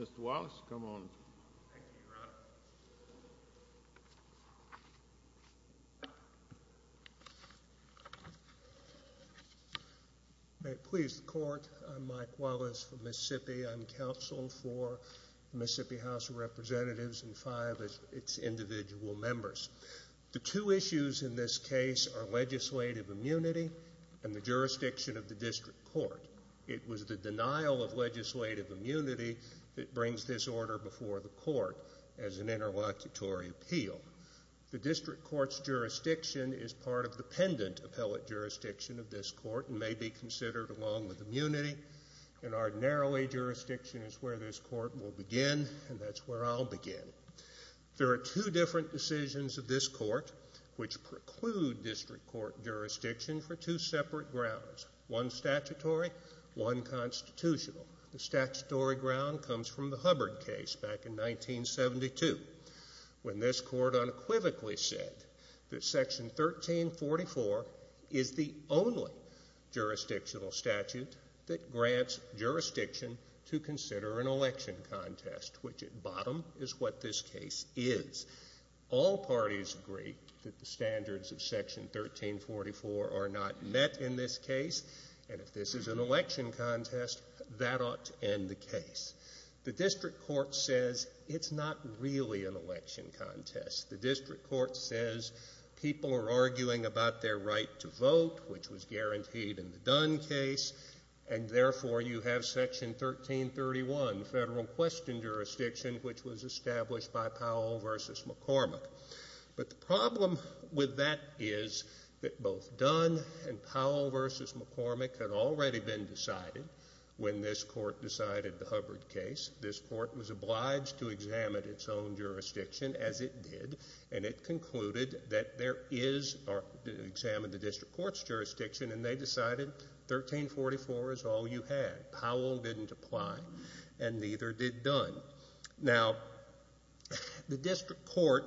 Mr. Wallace, come on up. Thank you, Your Honor. May it please the Court, I'm Mike Wallace from Mississippi. I'm counsel for the Mississippi House of Representatives and five of its individual members. The two issues in this case are legislative immunity and the jurisdiction of the district court. It was the denial of legislative immunity that brings this order before the court as an interlocutory appeal. The district court's jurisdiction is part of the pendent appellate jurisdiction of this court and may be considered along with immunity. An ordinarily jurisdiction is where this court will begin and that's where I'll begin. There are two different decisions of this court which preclude district court jurisdiction for two separate grounds. One statutory, one constitutional. The statutory ground comes from the Hubbard case back in 1972 when this court unequivocally said that Section 1344 is the only jurisdictional statute that grants jurisdiction to consider an election contest, which at bottom is what this case is. All parties agree that the standards of Section 1344 are not met in this case and if this is an election contest, that ought to end the case. The district court says it's not really an election contest. The district court says people are arguing about their right to vote, which was guaranteed in the Dunn case, and therefore you have Section 1331, federal question jurisdiction, which was established by Powell v. McCormick. But the problem with that is that both Dunn and Powell v. McCormick had already been decided when this court decided the Hubbard case. This court was obliged to examine its own jurisdiction as it did and it concluded that there is or examined the district court's jurisdiction and they decided 1344 is all you had. Powell didn't apply and neither did Dunn. Now, the district court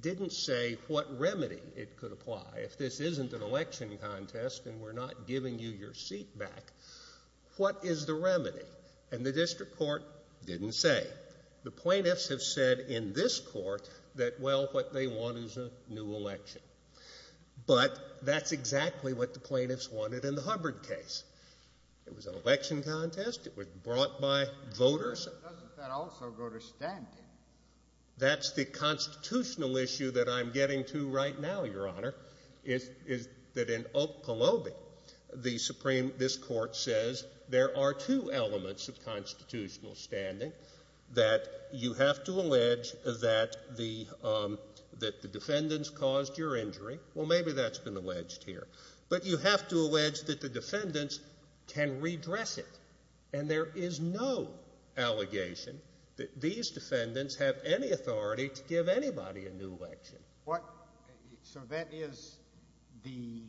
didn't say what remedy it could apply. If this isn't an election contest and we're not giving you your seat back, what is the remedy? And the district court didn't say. The plaintiffs have said in this court that, well, what they want is a new election. But that's exactly what the plaintiffs wanted in the Hubbard case. It was an election contest. It was brought by voters. Doesn't that also go to standing? That's the constitutional issue that I'm getting to right now, Your Honor, is that in Oklahoma, this court says there are two elements of constitutional standing. That you have to allege that the defendants caused your injury. Well, maybe that's been alleged here. But you have to allege that the defendants can redress it. And there is no allegation that these defendants have any authority to give anybody a new election. So that is the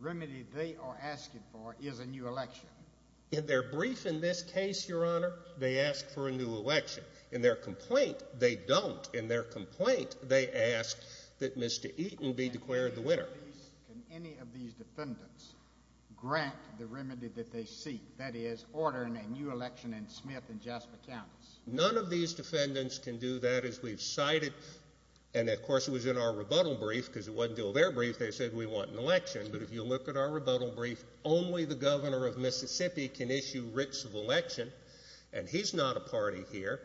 remedy they are asking for is a new election. In their brief in this case, Your Honor, they ask for a new election. In their complaint, they don't. In their complaint, they ask that Mr. Eaton be declared the winner. Can any of these defendants grant the remedy that they seek, that is ordering a new election in Smith and Jasper counties? None of these defendants can do that as we've cited. And, of course, it was in our rebuttal brief because it wasn't until their brief they said we want an election. But if you look at our rebuttal brief, only the governor of Mississippi can issue writs of election. And he's not a party here.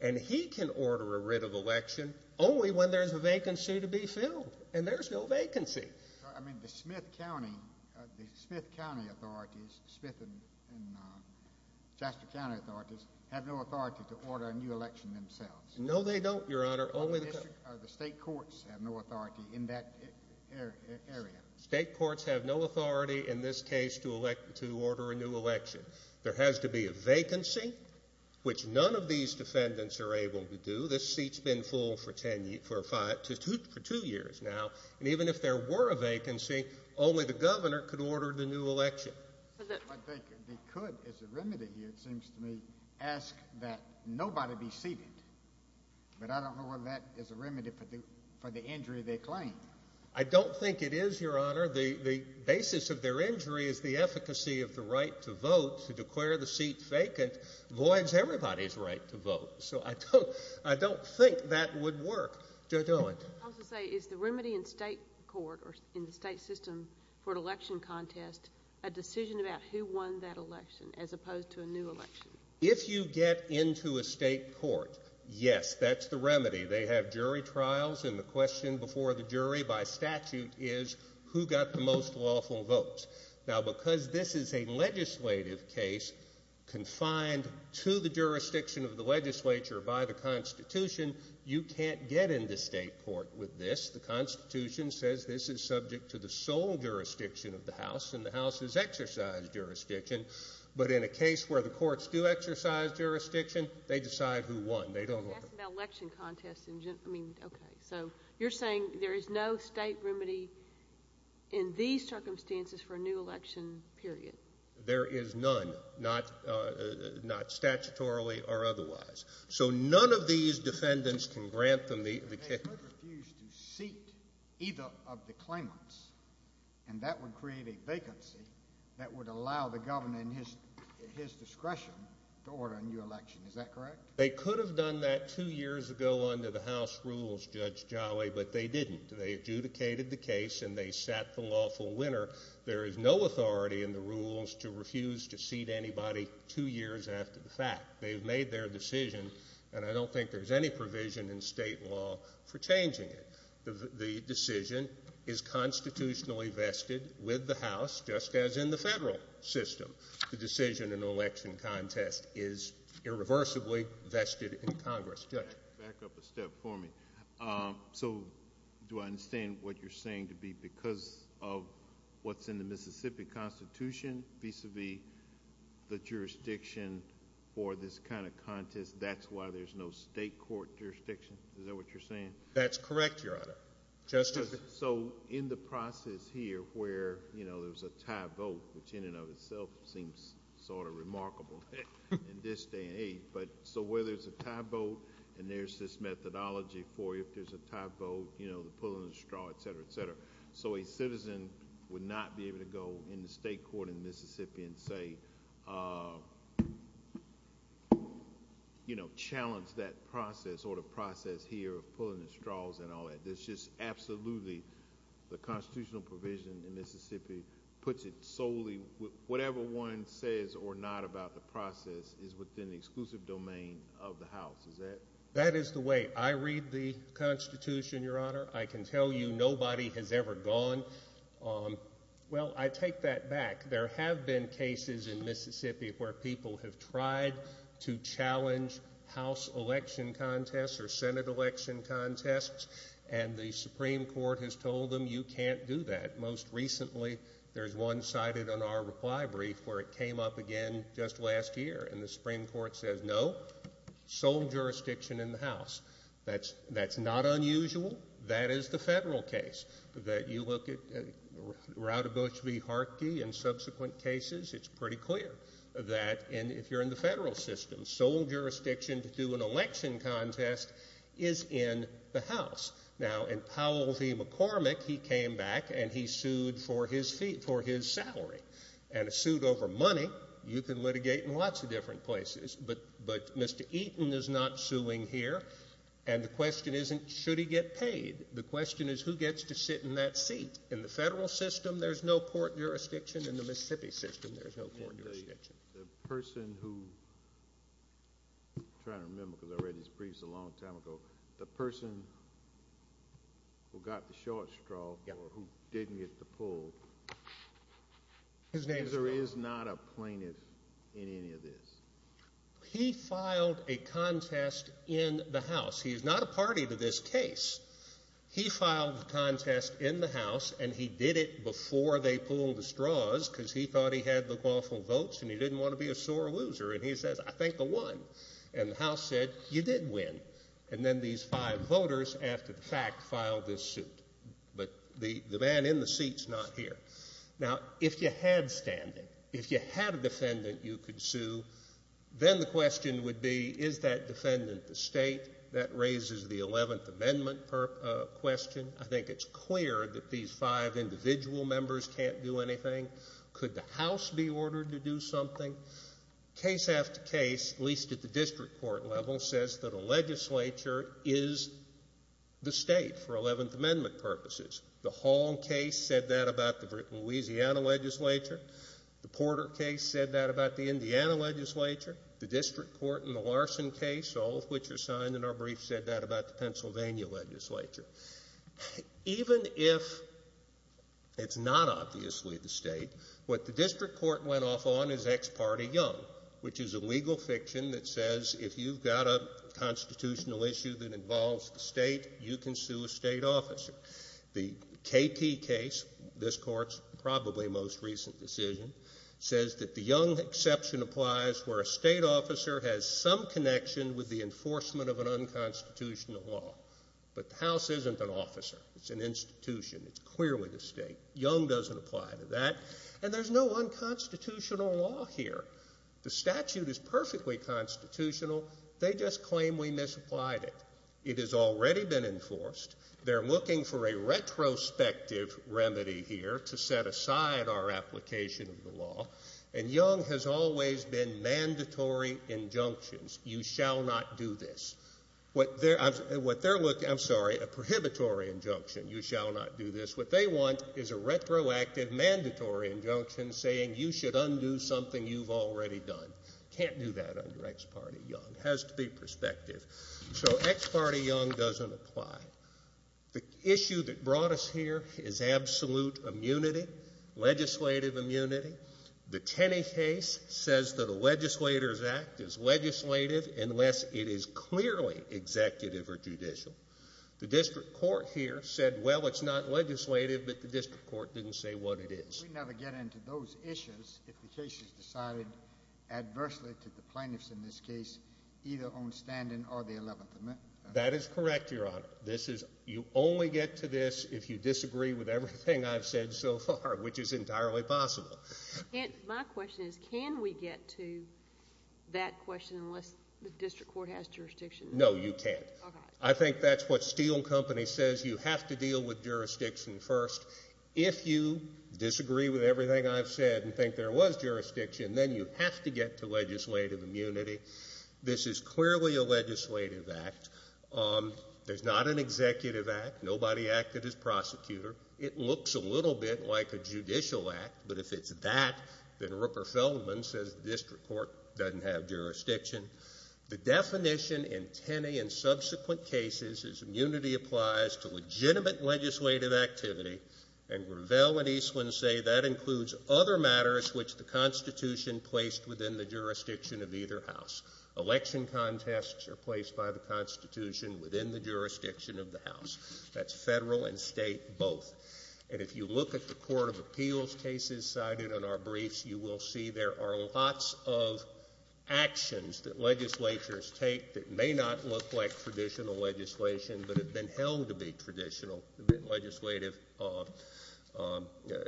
And he can order a writ of election only when there's a vacancy to be filled. And there's no vacancy. I mean, the Smith County authorities, Smith and Jasper County authorities, have no authority to order a new election themselves. No, they don't, Your Honor. Only the state courts have no authority in that area. State courts have no authority in this case to order a new election. There has to be a vacancy, which none of these defendants are able to do. This seat's been full for two years now. And even if there were a vacancy, only the governor could order the new election. But they could, as a remedy here, it seems to me, ask that nobody be seated. But I don't know whether that is a remedy for the injury of their claim. I don't think it is, Your Honor. The basis of their injury is the efficacy of the right to vote. To declare the seat vacant voids everybody's right to vote. So I don't think that would work. Judge Owen. I was going to say, is the remedy in state court or in the state system for an election contest a decision about who won that election as opposed to a new election? If you get into a state court, yes, that's the remedy. They have jury trials, and the question before the jury by statute is who got the most lawful votes. Now, because this is a legislative case confined to the jurisdiction of the legislature by the Constitution, you can't get into state court with this. The Constitution says this is subject to the sole jurisdiction of the House, and the House has exercised jurisdiction. But in a case where the courts do exercise jurisdiction, they decide who won. I was asking about election contests. I mean, okay. So you're saying there is no state remedy in these circumstances for a new election period. There is none, not statutorily or otherwise. So none of these defendants can grant them the kick. They could refuse to seat either of the claimants, and that would create a vacancy that would allow the governor and his discretion to order a new election. Is that correct? They could have done that two years ago under the House rules, Judge Jolly, but they didn't. They adjudicated the case, and they sat the lawful winner. There is no authority in the rules to refuse to seat anybody two years after the fact. They've made their decision, and I don't think there's any provision in state law for changing it. The decision is constitutionally vested with the House, just as in the federal system. The decision in an election contest is irreversibly vested in Congress. Judge? Back up a step for me. So do I understand what you're saying to be because of what's in the Mississippi Constitution, vis-a-vis the jurisdiction for this kind of contest, that's why there's no state court jurisdiction? Is that what you're saying? That's correct, Your Honor. Justice? So in the process here where there's a tie vote, which in and of itself seems sort of remarkable in this day and age, but so where there's a tie vote and there's this methodology for if there's a tie vote, the pulling the straw, et cetera, et cetera. So a citizen would not be able to go in the state court in Mississippi and, say, challenge that process or the process here of pulling the straws and all that. It's just absolutely the constitutional provision in Mississippi puts it solely, whatever one says or not about the process is within the exclusive domain of the House. Is that? That is the way I read the Constitution, Your Honor. I can tell you nobody has ever gone. Well, I take that back. There have been cases in Mississippi where people have tried to challenge House election contests or Senate election contests, and the Supreme Court has told them you can't do that. Most recently there's one cited on our reply brief where it came up again just last year, and the Supreme Court says no, sole jurisdiction in the House. That's not unusual. That is the federal case. That you look at Routabush v. Harkey and subsequent cases, it's pretty clear that if you're in the federal system, sole jurisdiction to do an election contest is in the House. Now, in Powell v. McCormick, he came back and he sued for his salary. And a suit over money you can litigate in lots of different places, but Mr. Eaton is not suing here, and the question isn't should he get paid. The question is who gets to sit in that seat. In the federal system there's no court jurisdiction. In the Mississippi system there's no court jurisdiction. The person who, I'm trying to remember because I read his briefs a long time ago, the person who got the short straw or who didn't get the poll. His name is Powell. Is or is not a plaintiff in any of this. He filed a contest in the House. He is not a party to this case. He filed the contest in the House, and he did it before they pulled the straws because he thought he had the lawful votes and he didn't want to be a sore loser. And he says, I think I won. And the House said, you did win. And then these five voters, after the fact, filed this suit. But the man in the seat is not here. Then the question would be, is that defendant the state? That raises the Eleventh Amendment question. I think it's clear that these five individual members can't do anything. Could the House be ordered to do something? Case after case, at least at the district court level, says that a legislature is the state for Eleventh Amendment purposes. The Hall case said that about the Louisiana legislature. The Porter case said that about the Indiana legislature. The district court in the Larson case, all of which are signed in our brief, said that about the Pennsylvania legislature. Even if it's not obviously the state, what the district court went off on is ex parte young, which is a legal fiction that says if you've got a constitutional issue that involves the state, you can sue a state officer. The KP case, this court's probably most recent decision, says that the young exception applies where a state officer has some connection with the enforcement of an unconstitutional law. But the House isn't an officer. It's an institution. It's clearly the state. Young doesn't apply to that. And there's no unconstitutional law here. The statute is perfectly constitutional. They just claim we misapplied it. It has already been enforced. They're looking for a retrospective remedy here to set aside our application of the law. And young has always been mandatory injunctions. You shall not do this. I'm sorry, a prohibitory injunction. You shall not do this. What they want is a retroactive mandatory injunction saying you should undo something you've already done. Can't do that under ex parte young. It has to be prospective. So ex parte young doesn't apply. The issue that brought us here is absolute immunity, legislative immunity. The Tenney case says that a legislator's act is legislative unless it is clearly executive or judicial. The district court here said, well, it's not legislative, but the district court didn't say what it is. We never get into those issues if the case is decided adversely to the plaintiffs in this case, either on standing or the 11th amendment. That is correct, Your Honor. You only get to this if you disagree with everything I've said so far, which is entirely possible. My question is can we get to that question unless the district court has jurisdiction? No, you can't. I think that's what Steel Company says. You have to deal with jurisdiction first. If you disagree with everything I've said and think there was jurisdiction, then you have to get to legislative immunity. This is clearly a legislative act. There's not an executive act. Nobody acted as prosecutor. It looks a little bit like a judicial act, but if it's that, then Rooker Feldman says the district court doesn't have jurisdiction. The definition in Tenney and subsequent cases is immunity applies to legitimate legislative activity, and Gravel and Eastland say that includes other matters which the Constitution placed within the jurisdiction of either house. Election contests are placed by the Constitution within the jurisdiction of the house. That's federal and state both. And if you look at the court of appeals cases cited in our briefs, you will see there are lots of actions that legislatures take that may not look like traditional legislation but have been held to be traditional legislative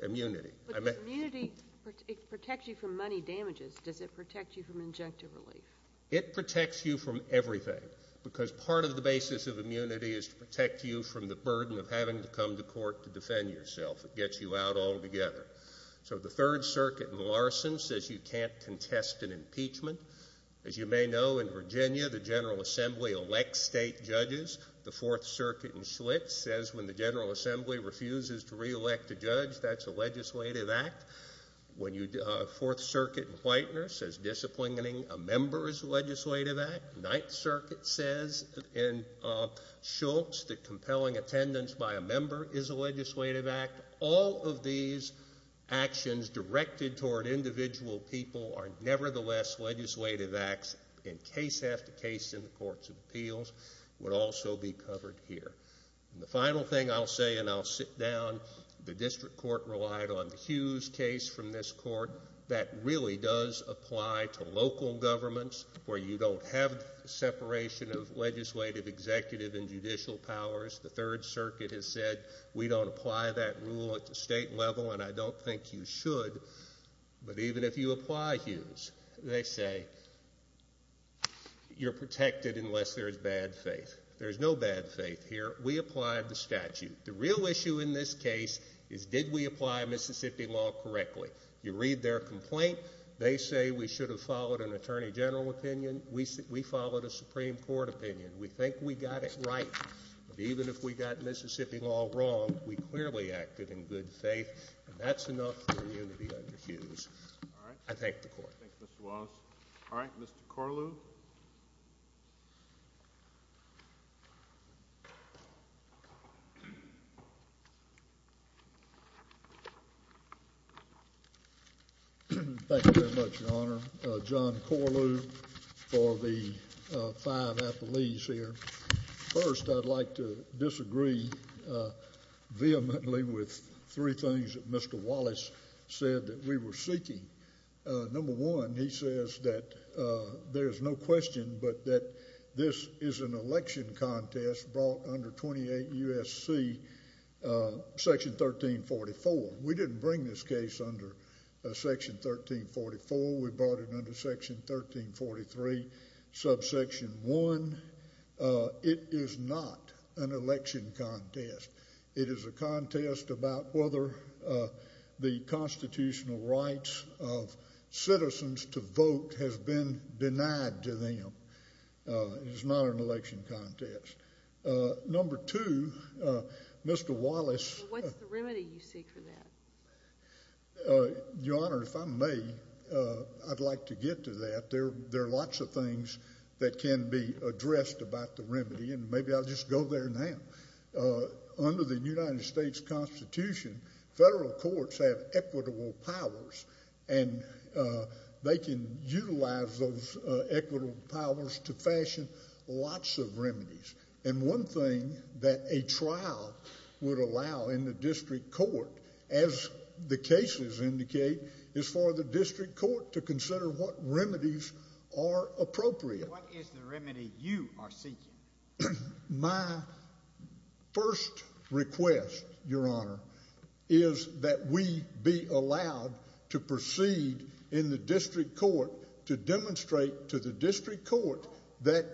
immunity. But immunity protects you from money damages. Does it protect you from injunctive relief? It protects you from everything, because part of the basis of immunity is to protect you from the burden of having to come to court to defend yourself. It gets you out altogether. So the Third Circuit in Larson says you can't contest an impeachment. As you may know, in Virginia, the General Assembly elects state judges. The Fourth Circuit in Schlitz says when the General Assembly refuses to reelect a judge, that's a legislative act. Fourth Circuit in Whitener says disciplining a member is a legislative act. Ninth Circuit says in Schultz that compelling attendance by a member is a legislative act. All of these actions directed toward individual people are nevertheless legislative acts, and case after case in the courts of appeals would also be covered here. The final thing I'll say, and I'll sit down, the district court relied on the Hughes case from this court. That really does apply to local governments where you don't have separation of legislative, executive, and judicial powers. The Third Circuit has said we don't apply that rule at the state level, and I don't think you should. But even if you apply Hughes, they say you're protected unless there's bad faith. There's no bad faith here. We applied the statute. The real issue in this case is did we apply Mississippi law correctly. You read their complaint. They say we should have followed an attorney general opinion. We followed a Supreme Court opinion. We think we got it right, but even if we got Mississippi law wrong, we clearly acted in good faith, and that's enough for you to be under Hughes. All right. I thank the Court. Thank you, Mr. Wallace. All right, Mr. Corlew. Thank you very much, Your Honor. John Corlew for the fine apologies here. First, I'd like to disagree vehemently with three things that Mr. Wallace said that we were seeking. Number one, he says that there's no question but that this is an election contest brought under 28 U.S.C. section 1344. We didn't bring this case under section 1344. We brought it under section 1343, subsection 1. It is not an election contest. It is a contest about whether the constitutional rights of citizens to vote has been denied to them. It is not an election contest. Number two, Mr. Wallace. What's the remedy you seek for that? Your Honor, if I may, I'd like to get to that. There are lots of things that can be addressed about the remedy, and maybe I'll just go there now. Under the United States Constitution, federal courts have equitable powers, and they can utilize those equitable powers to fashion lots of remedies. And one thing that a trial would allow in the district court, as the cases indicate, is for the district court to consider what remedies are appropriate. What is the remedy you are seeking? My first request, Your Honor, is that we be allowed to proceed in the district court to demonstrate to the district court that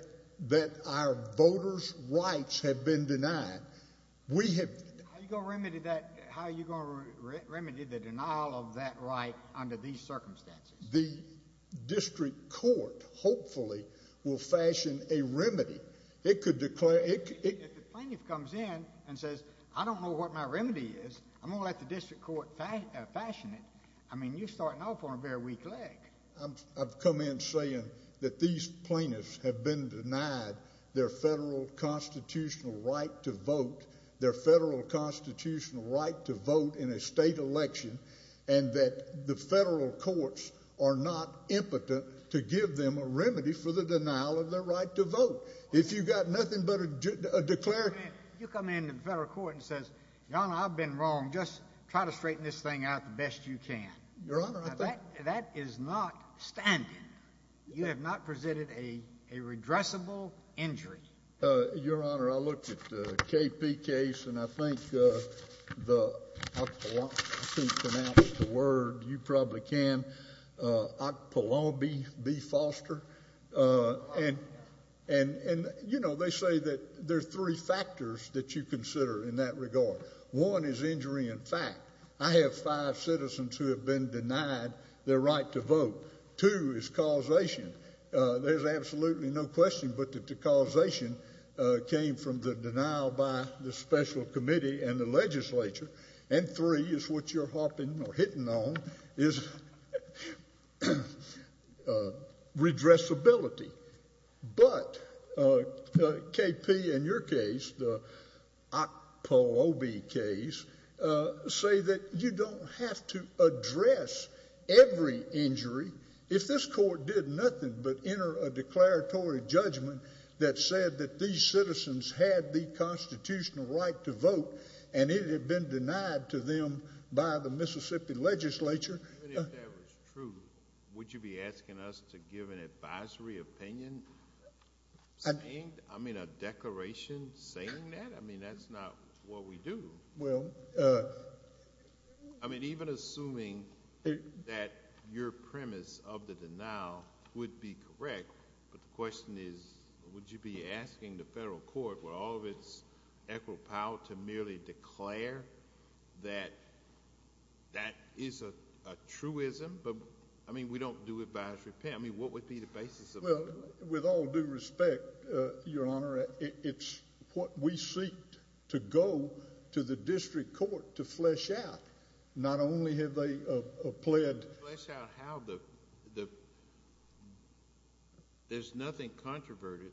our voters' rights have been denied. How are you going to remedy the denial of that right under these circumstances? The district court, hopefully, will fashion a remedy. If the plaintiff comes in and says, I don't know what my remedy is, I'm going to let the district court fashion it, I mean, you're starting off on a very weak leg. I've come in saying that these plaintiffs have been denied their federal constitutional right to vote, their federal constitutional right to vote in a state election, and that the federal courts are not impotent to give them a remedy for the denial of their right to vote. If you've got nothing but a declarative— Your Honor, I think— Now, that is not standing. You have not presented a redressable injury. Your Honor, I looked at the KP case, and I think the—I can't pronounce the word. You probably can. Okpulobi B. Foster. And, you know, they say that there are three factors that you consider in that regard. One is injury in fact. I have five citizens who have been denied their right to vote. Two is causation. There's absolutely no question but that the causation came from the denial by the special committee and the legislature. And three is what you're hopping or hitting on, is redressability. But KP in your case, the Okpulobi case, say that you don't have to address every injury. If this court did nothing but enter a declaratory judgment that said that these citizens had the constitutional right to vote and it had been denied to them by the Mississippi legislature— I mean, a declaration saying that? I mean, that's not what we do. Well— I mean, even assuming that your premise of the denial would be correct, but the question is would you be asking the federal court with all of its equitable power to merely declare that that is a truism? But, I mean, we don't do advanced repair. I mean, what would be the basis of— Well, with all due respect, Your Honor, it's what we seek to go to the district court to flesh out. Not only have they pled— Flesh out how the—there's nothing controverted,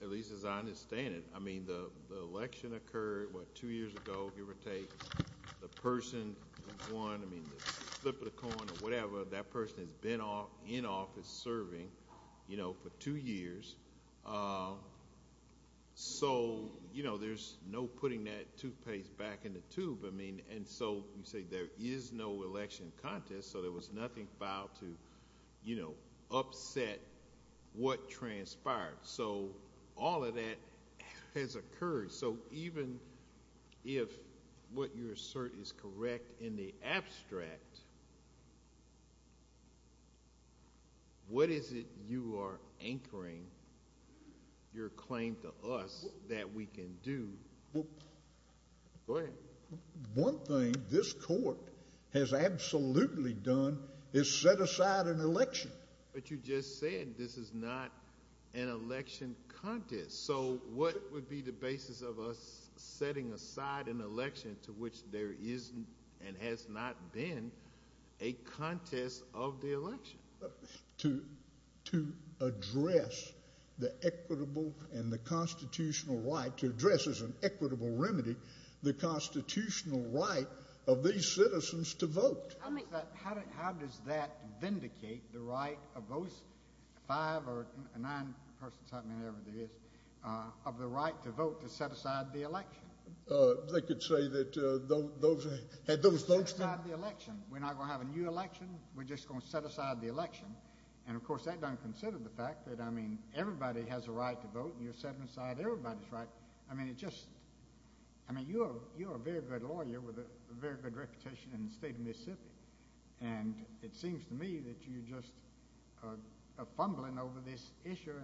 at least as I understand it. I mean, the election occurred, what, two years ago, give or take. The person who won, I mean, the flip of the coin or whatever, that person has been in office serving, you know, for two years. So, you know, there's no putting that toothpaste back in the tube. I mean, and so you say there is no election contest, so there was nothing filed to, you know, upset what transpired. So all of that has occurred. So even if what you assert is correct in the abstract, what is it you are anchoring your claim to us that we can do? Go ahead. One thing this court has absolutely done is set aside an election. But you just said this is not an election contest. So what would be the basis of us setting aside an election to which there is and has not been a contest of the election? To address the equitable and the constitutional right to address as an equitable remedy the constitutional right of these citizens to vote. How does that vindicate the right of those five or nine persons, however many there is, of the right to vote to set aside the election? They could say that those folks don't have the election. We're not going to have a new election. We're just going to set aside the election. And, of course, that doesn't consider the fact that, I mean, everybody has a right to vote, and you're setting aside everybody's right. I mean, you're a very good lawyer with a very good reputation in the state of Mississippi. And it seems to me that you're just fumbling over this issue,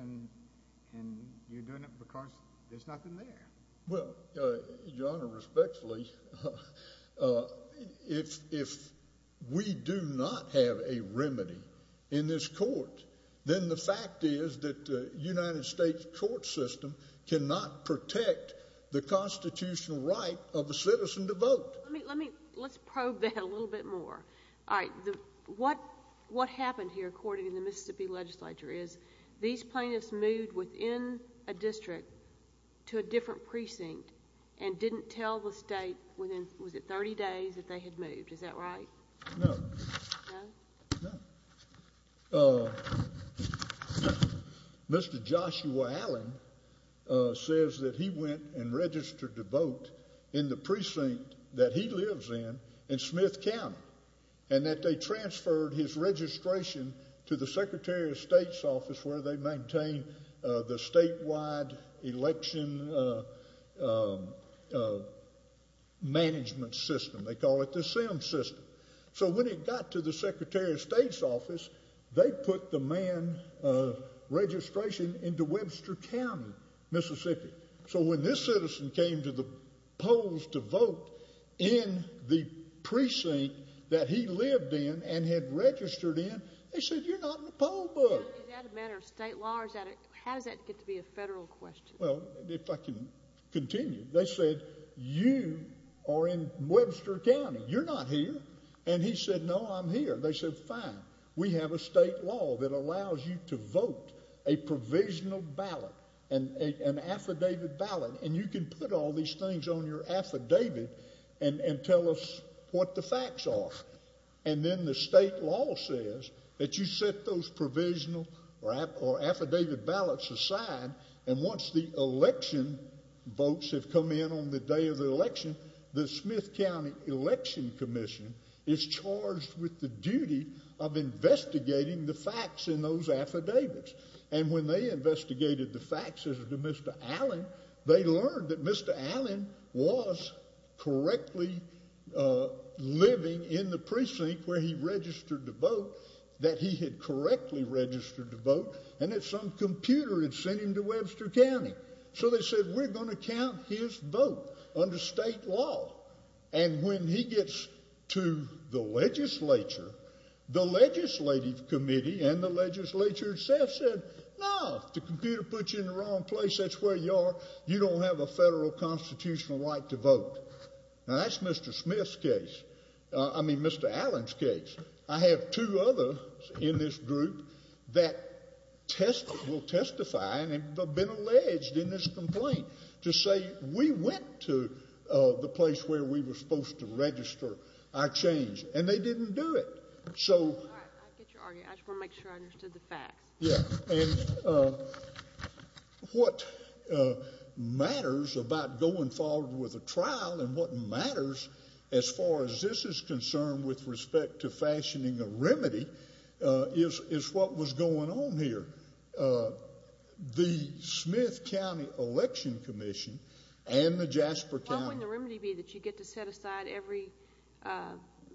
and you're doing it because there's nothing there. Well, Your Honor, respectfully, if we do not have a remedy in this court, then the fact is that the United States court system cannot protect the constitutional right of a citizen to vote. Let's probe that a little bit more. All right. What happened here, according to the Mississippi legislature, is these plaintiffs moved within a district to a different precinct and didn't tell the state within, was it 30 days, that they had moved. Is that right? No. No? No. Mr. Joshua Allen says that he went and registered to vote in the precinct that he lives in, in Smith County, and that they transferred his registration to the Secretary of State's office where they maintain the statewide election management system. They call it the SIM system. So when it got to the Secretary of State's office, they put the man's registration into Webster County, Mississippi. So when this citizen came to the polls to vote in the precinct that he lived in and had registered in, they said, You're not in the poll book. Is that a matter of state law? How does that get to be a federal question? Well, if I can continue. They said, You are in Webster County. You're not here. And he said, No, I'm here. They said, Fine. We have a state law that allows you to vote a provisional ballot, an affidavit ballot, and you can put all these things on your affidavit and tell us what the facts are. And then the state law says that you set those provisional or affidavit ballots aside, and once the election votes have come in on the day of the election, the Smith County Election Commission is charged with the duty of investigating the facts in those affidavits. And when they investigated the facts as to Mr. Allen, they learned that Mr. Allen was correctly living in the precinct where he registered to vote, that he had correctly registered to vote, and that some computer had sent him to Webster County. So they said, We're going to count his vote under state law. And when he gets to the legislature, the legislative committee and the legislature itself said, No, the computer put you in the wrong place. That's where you are. You don't have a federal constitutional right to vote. Now, that's Mr. Smith's case. I mean, Mr. Allen's case. I have two others in this group that will testify and have been alleged in this complaint to say, We went to the place where we were supposed to register our change, and they didn't do it. All right, I get your argument. I just want to make sure I understood the facts. Yes. And what matters about going forward with a trial and what matters as far as this is concerned with respect to fashioning a remedy is what was going on here. The Smith County Election Commission and the Jasper County. You get to set aside every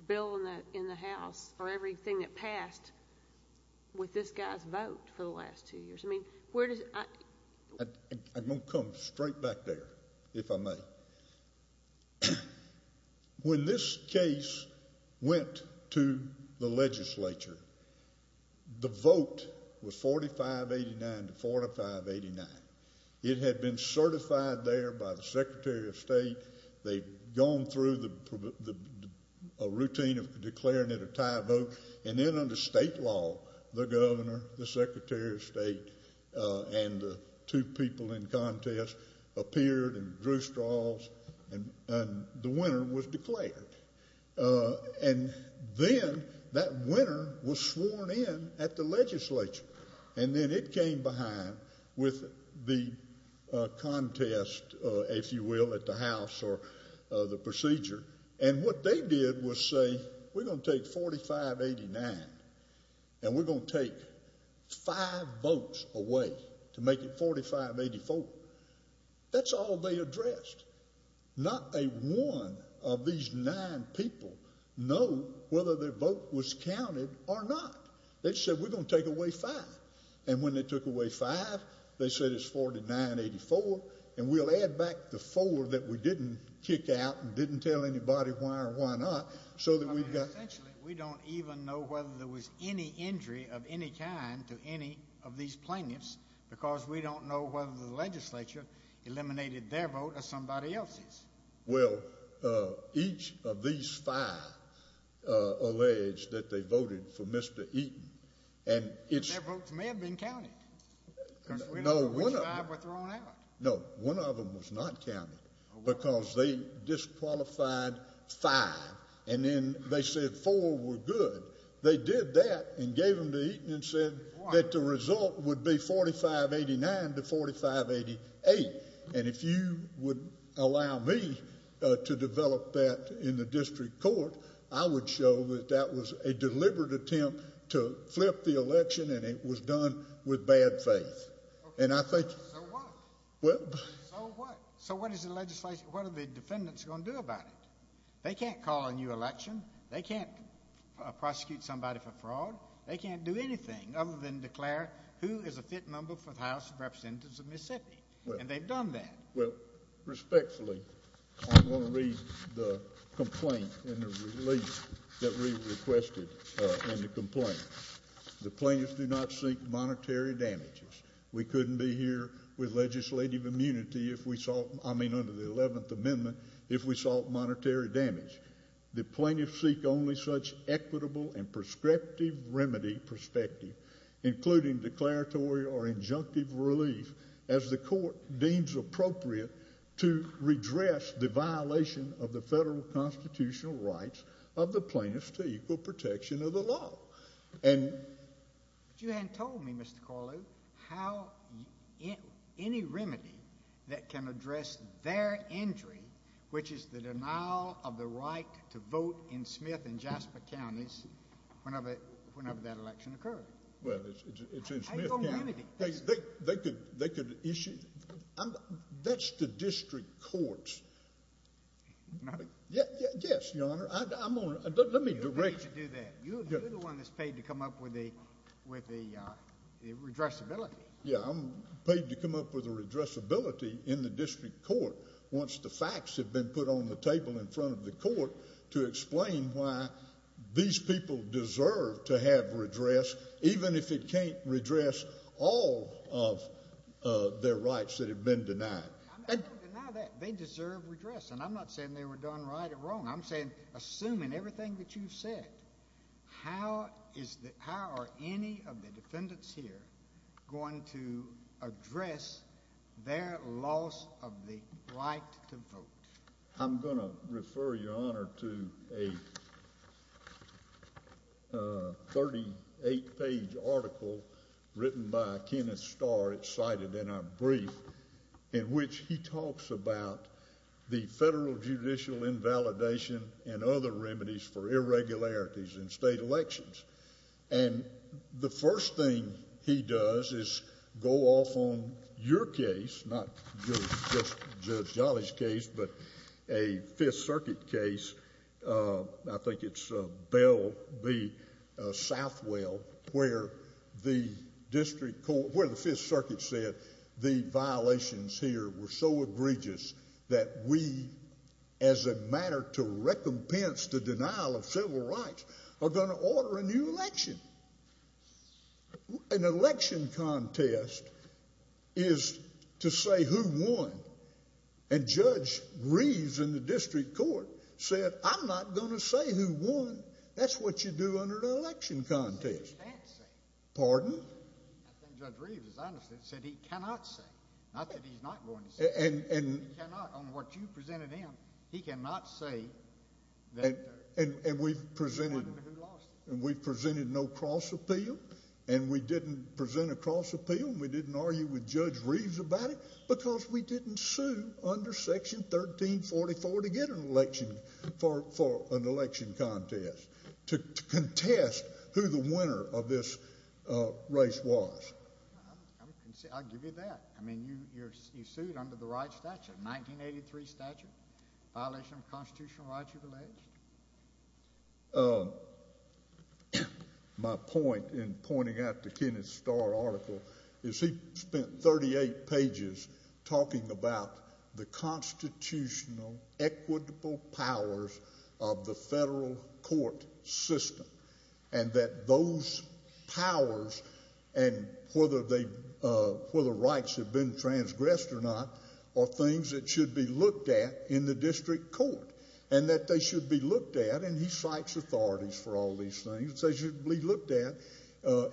bill in the House or everything that passed with this guy's vote for the last two years. I'm going to come straight back there, if I may. When this case went to the legislature, the vote was 4589 to 4589. It had been certified there by the Secretary of State. They'd gone through a routine of declaring it a tie vote, and then under state law, the governor, the Secretary of State, and the two people in contest appeared and drew straws, and the winner was declared. And then that winner was sworn in at the legislature. And then it came behind with the contest, if you will, at the House or the procedure. And what they did was say, we're going to take 4589, and we're going to take five votes away to make it 4584. That's all they addressed. Not a one of these nine people know whether their vote was counted or not. They said, we're going to take away five. And when they took away five, they said it's 4984, and we'll add back the four that we didn't kick out and didn't tell anybody why or why not so that we've got— Essentially, we don't even know whether there was any injury of any kind to any of these plaintiffs because we don't know whether the legislature eliminated their vote or somebody else's. Well, each of these five alleged that they voted for Mr. Eaton, and it's— Their votes may have been counted because we don't know which five were thrown out. No, one of them was not counted because they disqualified five, and then they said four were good. They did that and gave them to Eaton and said that the result would be 4589 to 4588. And if you would allow me to develop that in the district court, I would show that that was a deliberate attempt to flip the election, and it was done with bad faith. And I think— So what? Well— So what? So what is the legislation—what are the defendants going to do about it? They can't call a new election. They can't prosecute somebody for fraud. They can't do anything other than declare who is a fit member for the House of Representatives of Mississippi. And they've done that. Well, respectfully, I'm going to read the complaint and the relief that we requested in the complaint. The plaintiffs do not seek monetary damages. We couldn't be here with legislative immunity if we sought—I mean, under the Eleventh Amendment, if we sought monetary damage. The plaintiffs seek only such equitable and prescriptive remedy perspective, including declaratory or injunctive relief, as the court deems appropriate to redress the violation of the federal constitutional rights of the plaintiffs to equal protection of the law. But you hadn't told me, Mr. Corlew, how—any remedy that can address their injury, which is the denial of the right to vote in Smith and Jasper counties whenever that election occurred. Well, it's in Smith County. How do you know the remedy? They could issue—that's the district courts. Yes, Your Honor. I'm on—let me direct— You're the one that's paid to come up with the redressability. Yes, I'm paid to come up with a redressability in the district court once the facts have been put on the table in front of the court to explain why these people deserve to have redress, even if it can't redress all of their rights that have been denied. I don't deny that. They deserve redress. And I'm not saying they were done right or wrong. I'm saying, assuming everything that you've said, how is the—how are any of the defendants here going to address their loss of the right to vote? I'm going to refer, Your Honor, to a 38-page article written by Kenneth Starr. It's cited in our brief in which he talks about the federal judicial invalidation and other remedies for irregularities in state elections. And the first thing he does is go off on your case, not just Judge Jolly's case, but a Fifth Circuit case. I think it's Bell v. Southwell where the district court—where the Fifth Circuit said the violations here were so egregious that we, as a matter to recompense the denial of civil rights, are going to order a new election. An election contest is to say who won. And Judge Reeves in the district court said, I'm not going to say who won. That's what you do under an election contest. He said he can't say. Pardon? I think Judge Reeves, as I understand it, said he cannot say. Not that he's not going to say. He cannot. On what you presented him, he cannot say that— And we've presented no cross appeal, and we didn't present a cross appeal, and we didn't argue with Judge Reeves about it because we didn't sue under Section 1344 to get an election—for an election contest to contest who the winner of this race was. I'll give you that. I mean, you sued under the right statute, 1983 statute, violation of constitutional rights you've alleged. My point in pointing out the Kenneth Starr article is he spent 38 pages talking about the constitutional equitable powers of the federal court system and that those powers and whether rights have been transgressed or not are things that should be looked at in the district court and that they should be looked at. And he cites authorities for all these things. They should be looked at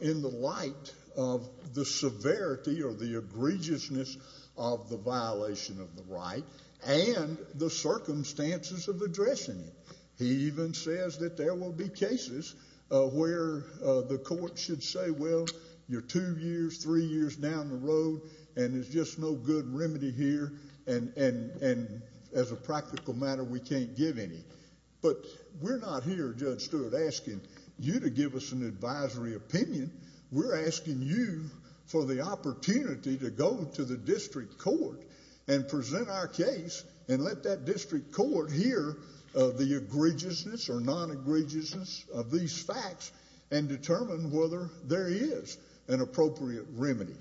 in the light of the severity or the egregiousness of the violation of the right and the circumstances of addressing it. He even says that there will be cases where the court should say, well, you're two years, three years down the road, and there's just no good remedy here, and as a practical matter, we can't give any. But we're not here, Judge Stewart, asking you to give us an advisory opinion. We're asking you for the opportunity to go to the district court and present our case and let that district court hear the egregiousness or non-egregiousness of these facts and determine whether there is an appropriate remedy.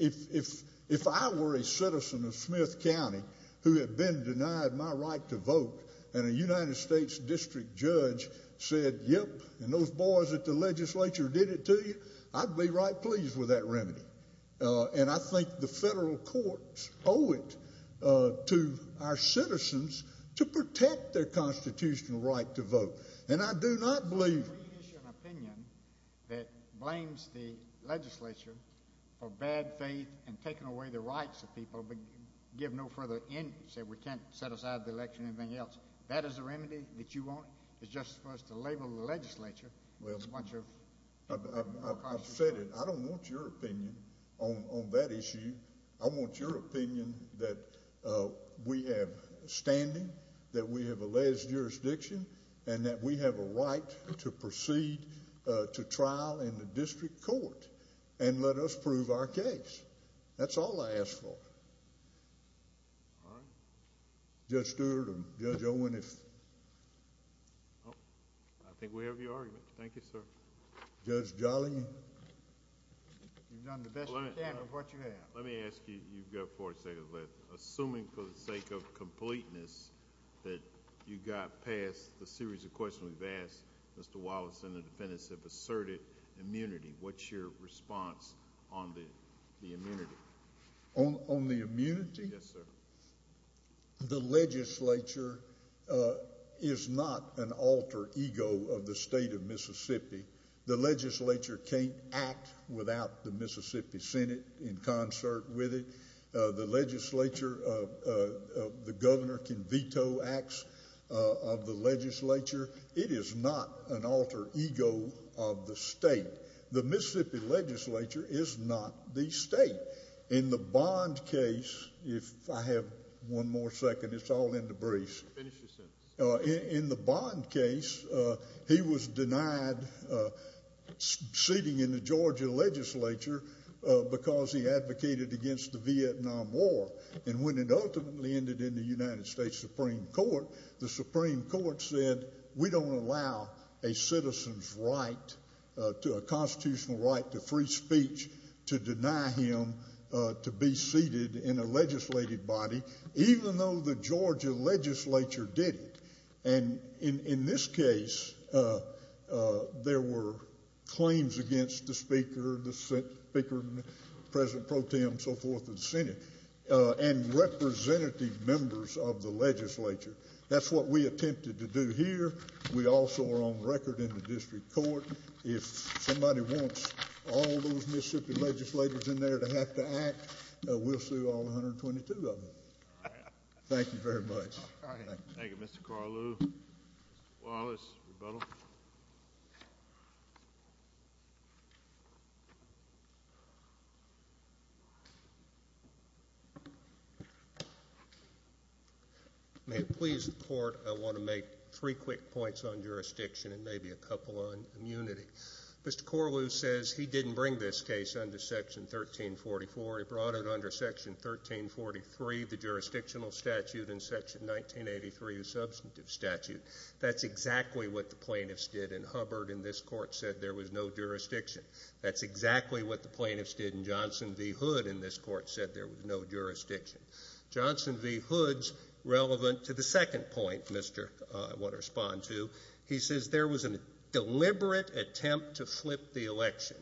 If I were a citizen of Smith County who had been denied my right to vote and a United States district judge said, yep, and those boys at the legislature did it to you, I'd be right pleased with that remedy. And I think the federal courts owe it to our citizens to protect their constitutional right to vote. And I do not believe. If you issue an opinion that blames the legislature for bad faith and taking away the rights of people but give no further interest, say we can't set aside the election or anything else, that is the remedy that you want? It's just for us to label the legislature with a bunch of constitutional rights? I've said it. I don't want your opinion on that issue. I want your opinion that we have standing, that we have a legis jurisdiction, and that we have a right to proceed to trial in the district court and let us prove our case. That's all I ask for. All right. Judge Stewart and Judge Owen, if... I think we have your argument. Thank you, sir. Judge Jolley... You've done the best you can with what you have. Let me ask you. You've got 40 seconds left. Assuming for the sake of completeness that you got past the series of questions we've asked, Mr. Wallace and the defendants have asserted immunity. What's your response on the immunity? On the immunity? Yes, sir. The legislature is not an alter ego of the state of Mississippi. The legislature can't act without the Mississippi Senate in concert with it. The legislature, the governor can veto acts of the legislature. It is not an alter ego of the state. The Mississippi legislature is not the state. In the Bond case, if I have one more second... It's all in the briefs. Finish your sentence. In the Bond case, he was denied seating in the Georgia legislature because he advocated against the Vietnam War. And when it ultimately ended in the United States Supreme Court, the Supreme Court said, we don't allow a citizen's right to a constitutional right to free speech to deny him to be seated in a legislated body, even though the Georgia legislature did it. And in this case, there were claims against the Speaker, President Pro Tem, and so forth in the Senate, and representative members of the legislature. That's what we attempted to do here. We also are on record in the district court. If somebody wants all those Mississippi legislators in there to have to act, we'll sue all 122 of them. Thank you very much. Thank you, Mr. Corlew. Mr. Wallace, rebuttal. May it please the Court, I want to make three quick points on jurisdiction and maybe a couple on immunity. Mr. Corlew says he didn't bring this case under Section 1344. He brought it under Section 1343, the jurisdictional statute, and Section 1983, the substantive statute. That's exactly what the plaintiffs did in Hubbard, and this Court said there was no jurisdiction. That's exactly what the plaintiffs did in Johnson v. Hood, and this Court said there was no jurisdiction. Johnson v. Hood's relevant to the second point I want to respond to. He says there was a deliberate attempt to flip the election.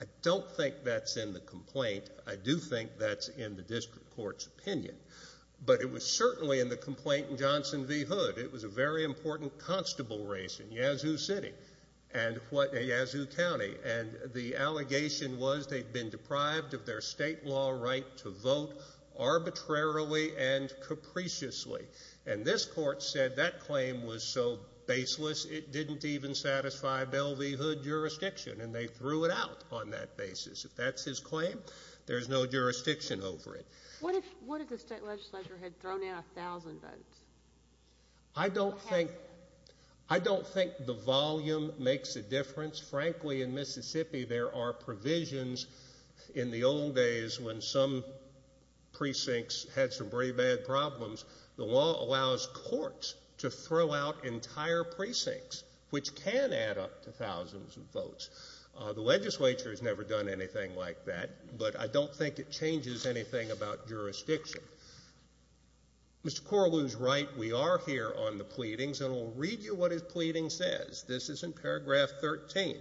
I don't think that's in the complaint. I do think that's in the district court's opinion. But it was certainly in the complaint in Johnson v. Hood. It was a very important constable race in Yazoo City and Yazoo County, and the allegation was they'd been deprived of their state law right to vote arbitrarily and capriciously. And this Court said that claim was so baseless it didn't even satisfy Bell v. Hood jurisdiction, and they threw it out on that basis. If that's his claim, there's no jurisdiction over it. What if the state legislature had thrown out 1,000 votes? I don't think the volume makes a difference. Frankly, in Mississippi there are provisions in the old days when some precincts had some pretty bad problems. The law allows courts to throw out entire precincts, which can add up to thousands of votes. The legislature has never done anything like that, but I don't think it changes anything about jurisdiction. Mr. Corlew is right. We are here on the pleadings, and I'll read you what his pleading says. This is in paragraph 13.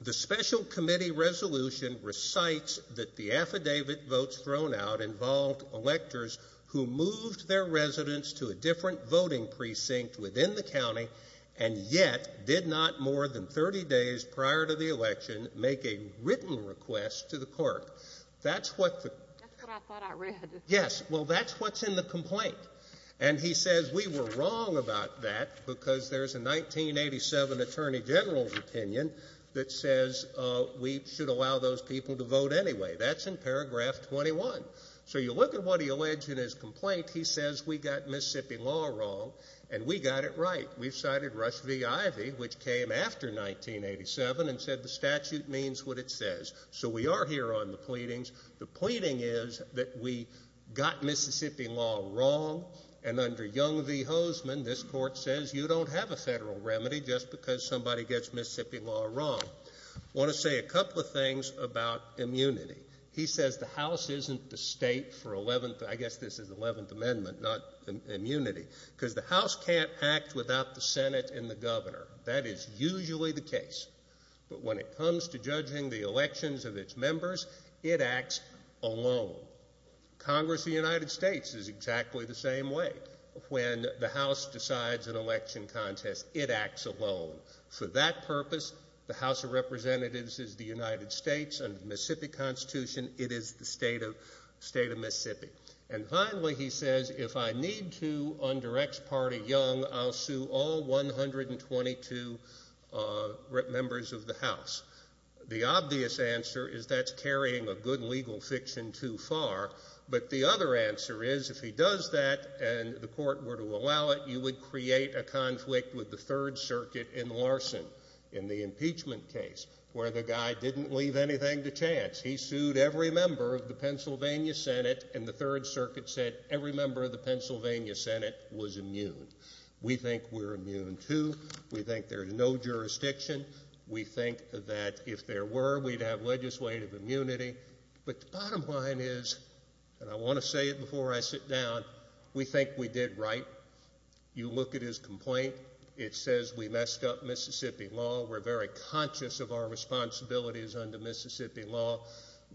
The special committee resolution recites that the affidavit votes thrown out involved electors who moved their residence to a different voting precinct within the county and yet did not more than 30 days prior to the election make a written request to the court. That's what I thought I read. Yes. Well, that's what's in the complaint. And he says we were wrong about that because there's a 1987 Attorney General's opinion that says we should allow those people to vote anyway. That's in paragraph 21. So you look at what he alleged in his complaint. He says we got Mississippi law wrong and we got it right. We've cited Rush v. Ivey, which came after 1987, and said the statute means what it says. So we are here on the pleadings. The pleading is that we got Mississippi law wrong, and under Young v. Hoseman, this court says you don't have a federal remedy just because somebody gets Mississippi law wrong. I want to say a couple of things about immunity. He says the House isn't the state for 11th. I guess this is the 11th Amendment, not immunity. Because the House can't act without the Senate and the governor. That is usually the case. But when it comes to judging the elections of its members, it acts alone. Congress of the United States is exactly the same way. When the House decides an election contest, it acts alone. For that purpose, the House of Representatives is the United States. Under the Mississippi Constitution, it is the state of Mississippi. And finally, he says if I need to, under ex parte Young, I'll sue all 122 members of the House. The obvious answer is that's carrying a good legal fiction too far. But the other answer is if he does that and the court were to allow it, you would create a conflict with the Third Circuit in Larson in the impeachment case where the guy didn't leave anything to chance. He sued every member of the Pennsylvania Senate, and the Third Circuit said every member of the Pennsylvania Senate was immune. We think we're immune too. We think there's no jurisdiction. We think that if there were, we'd have legislative immunity. But the bottom line is, and I want to say it before I sit down, we think we did right. You look at his complaint. It says we messed up Mississippi law. We're very conscious of our responsibilities under Mississippi law.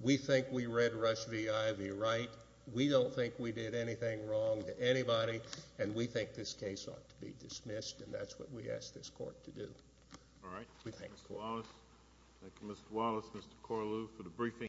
We think we read Rush v. Ivey right. We don't think we did anything wrong to anybody, and we think this case ought to be dismissed, and that's what we ask this court to do. Thank you, Mr. Wallace, Mr. Corlew, for the briefing.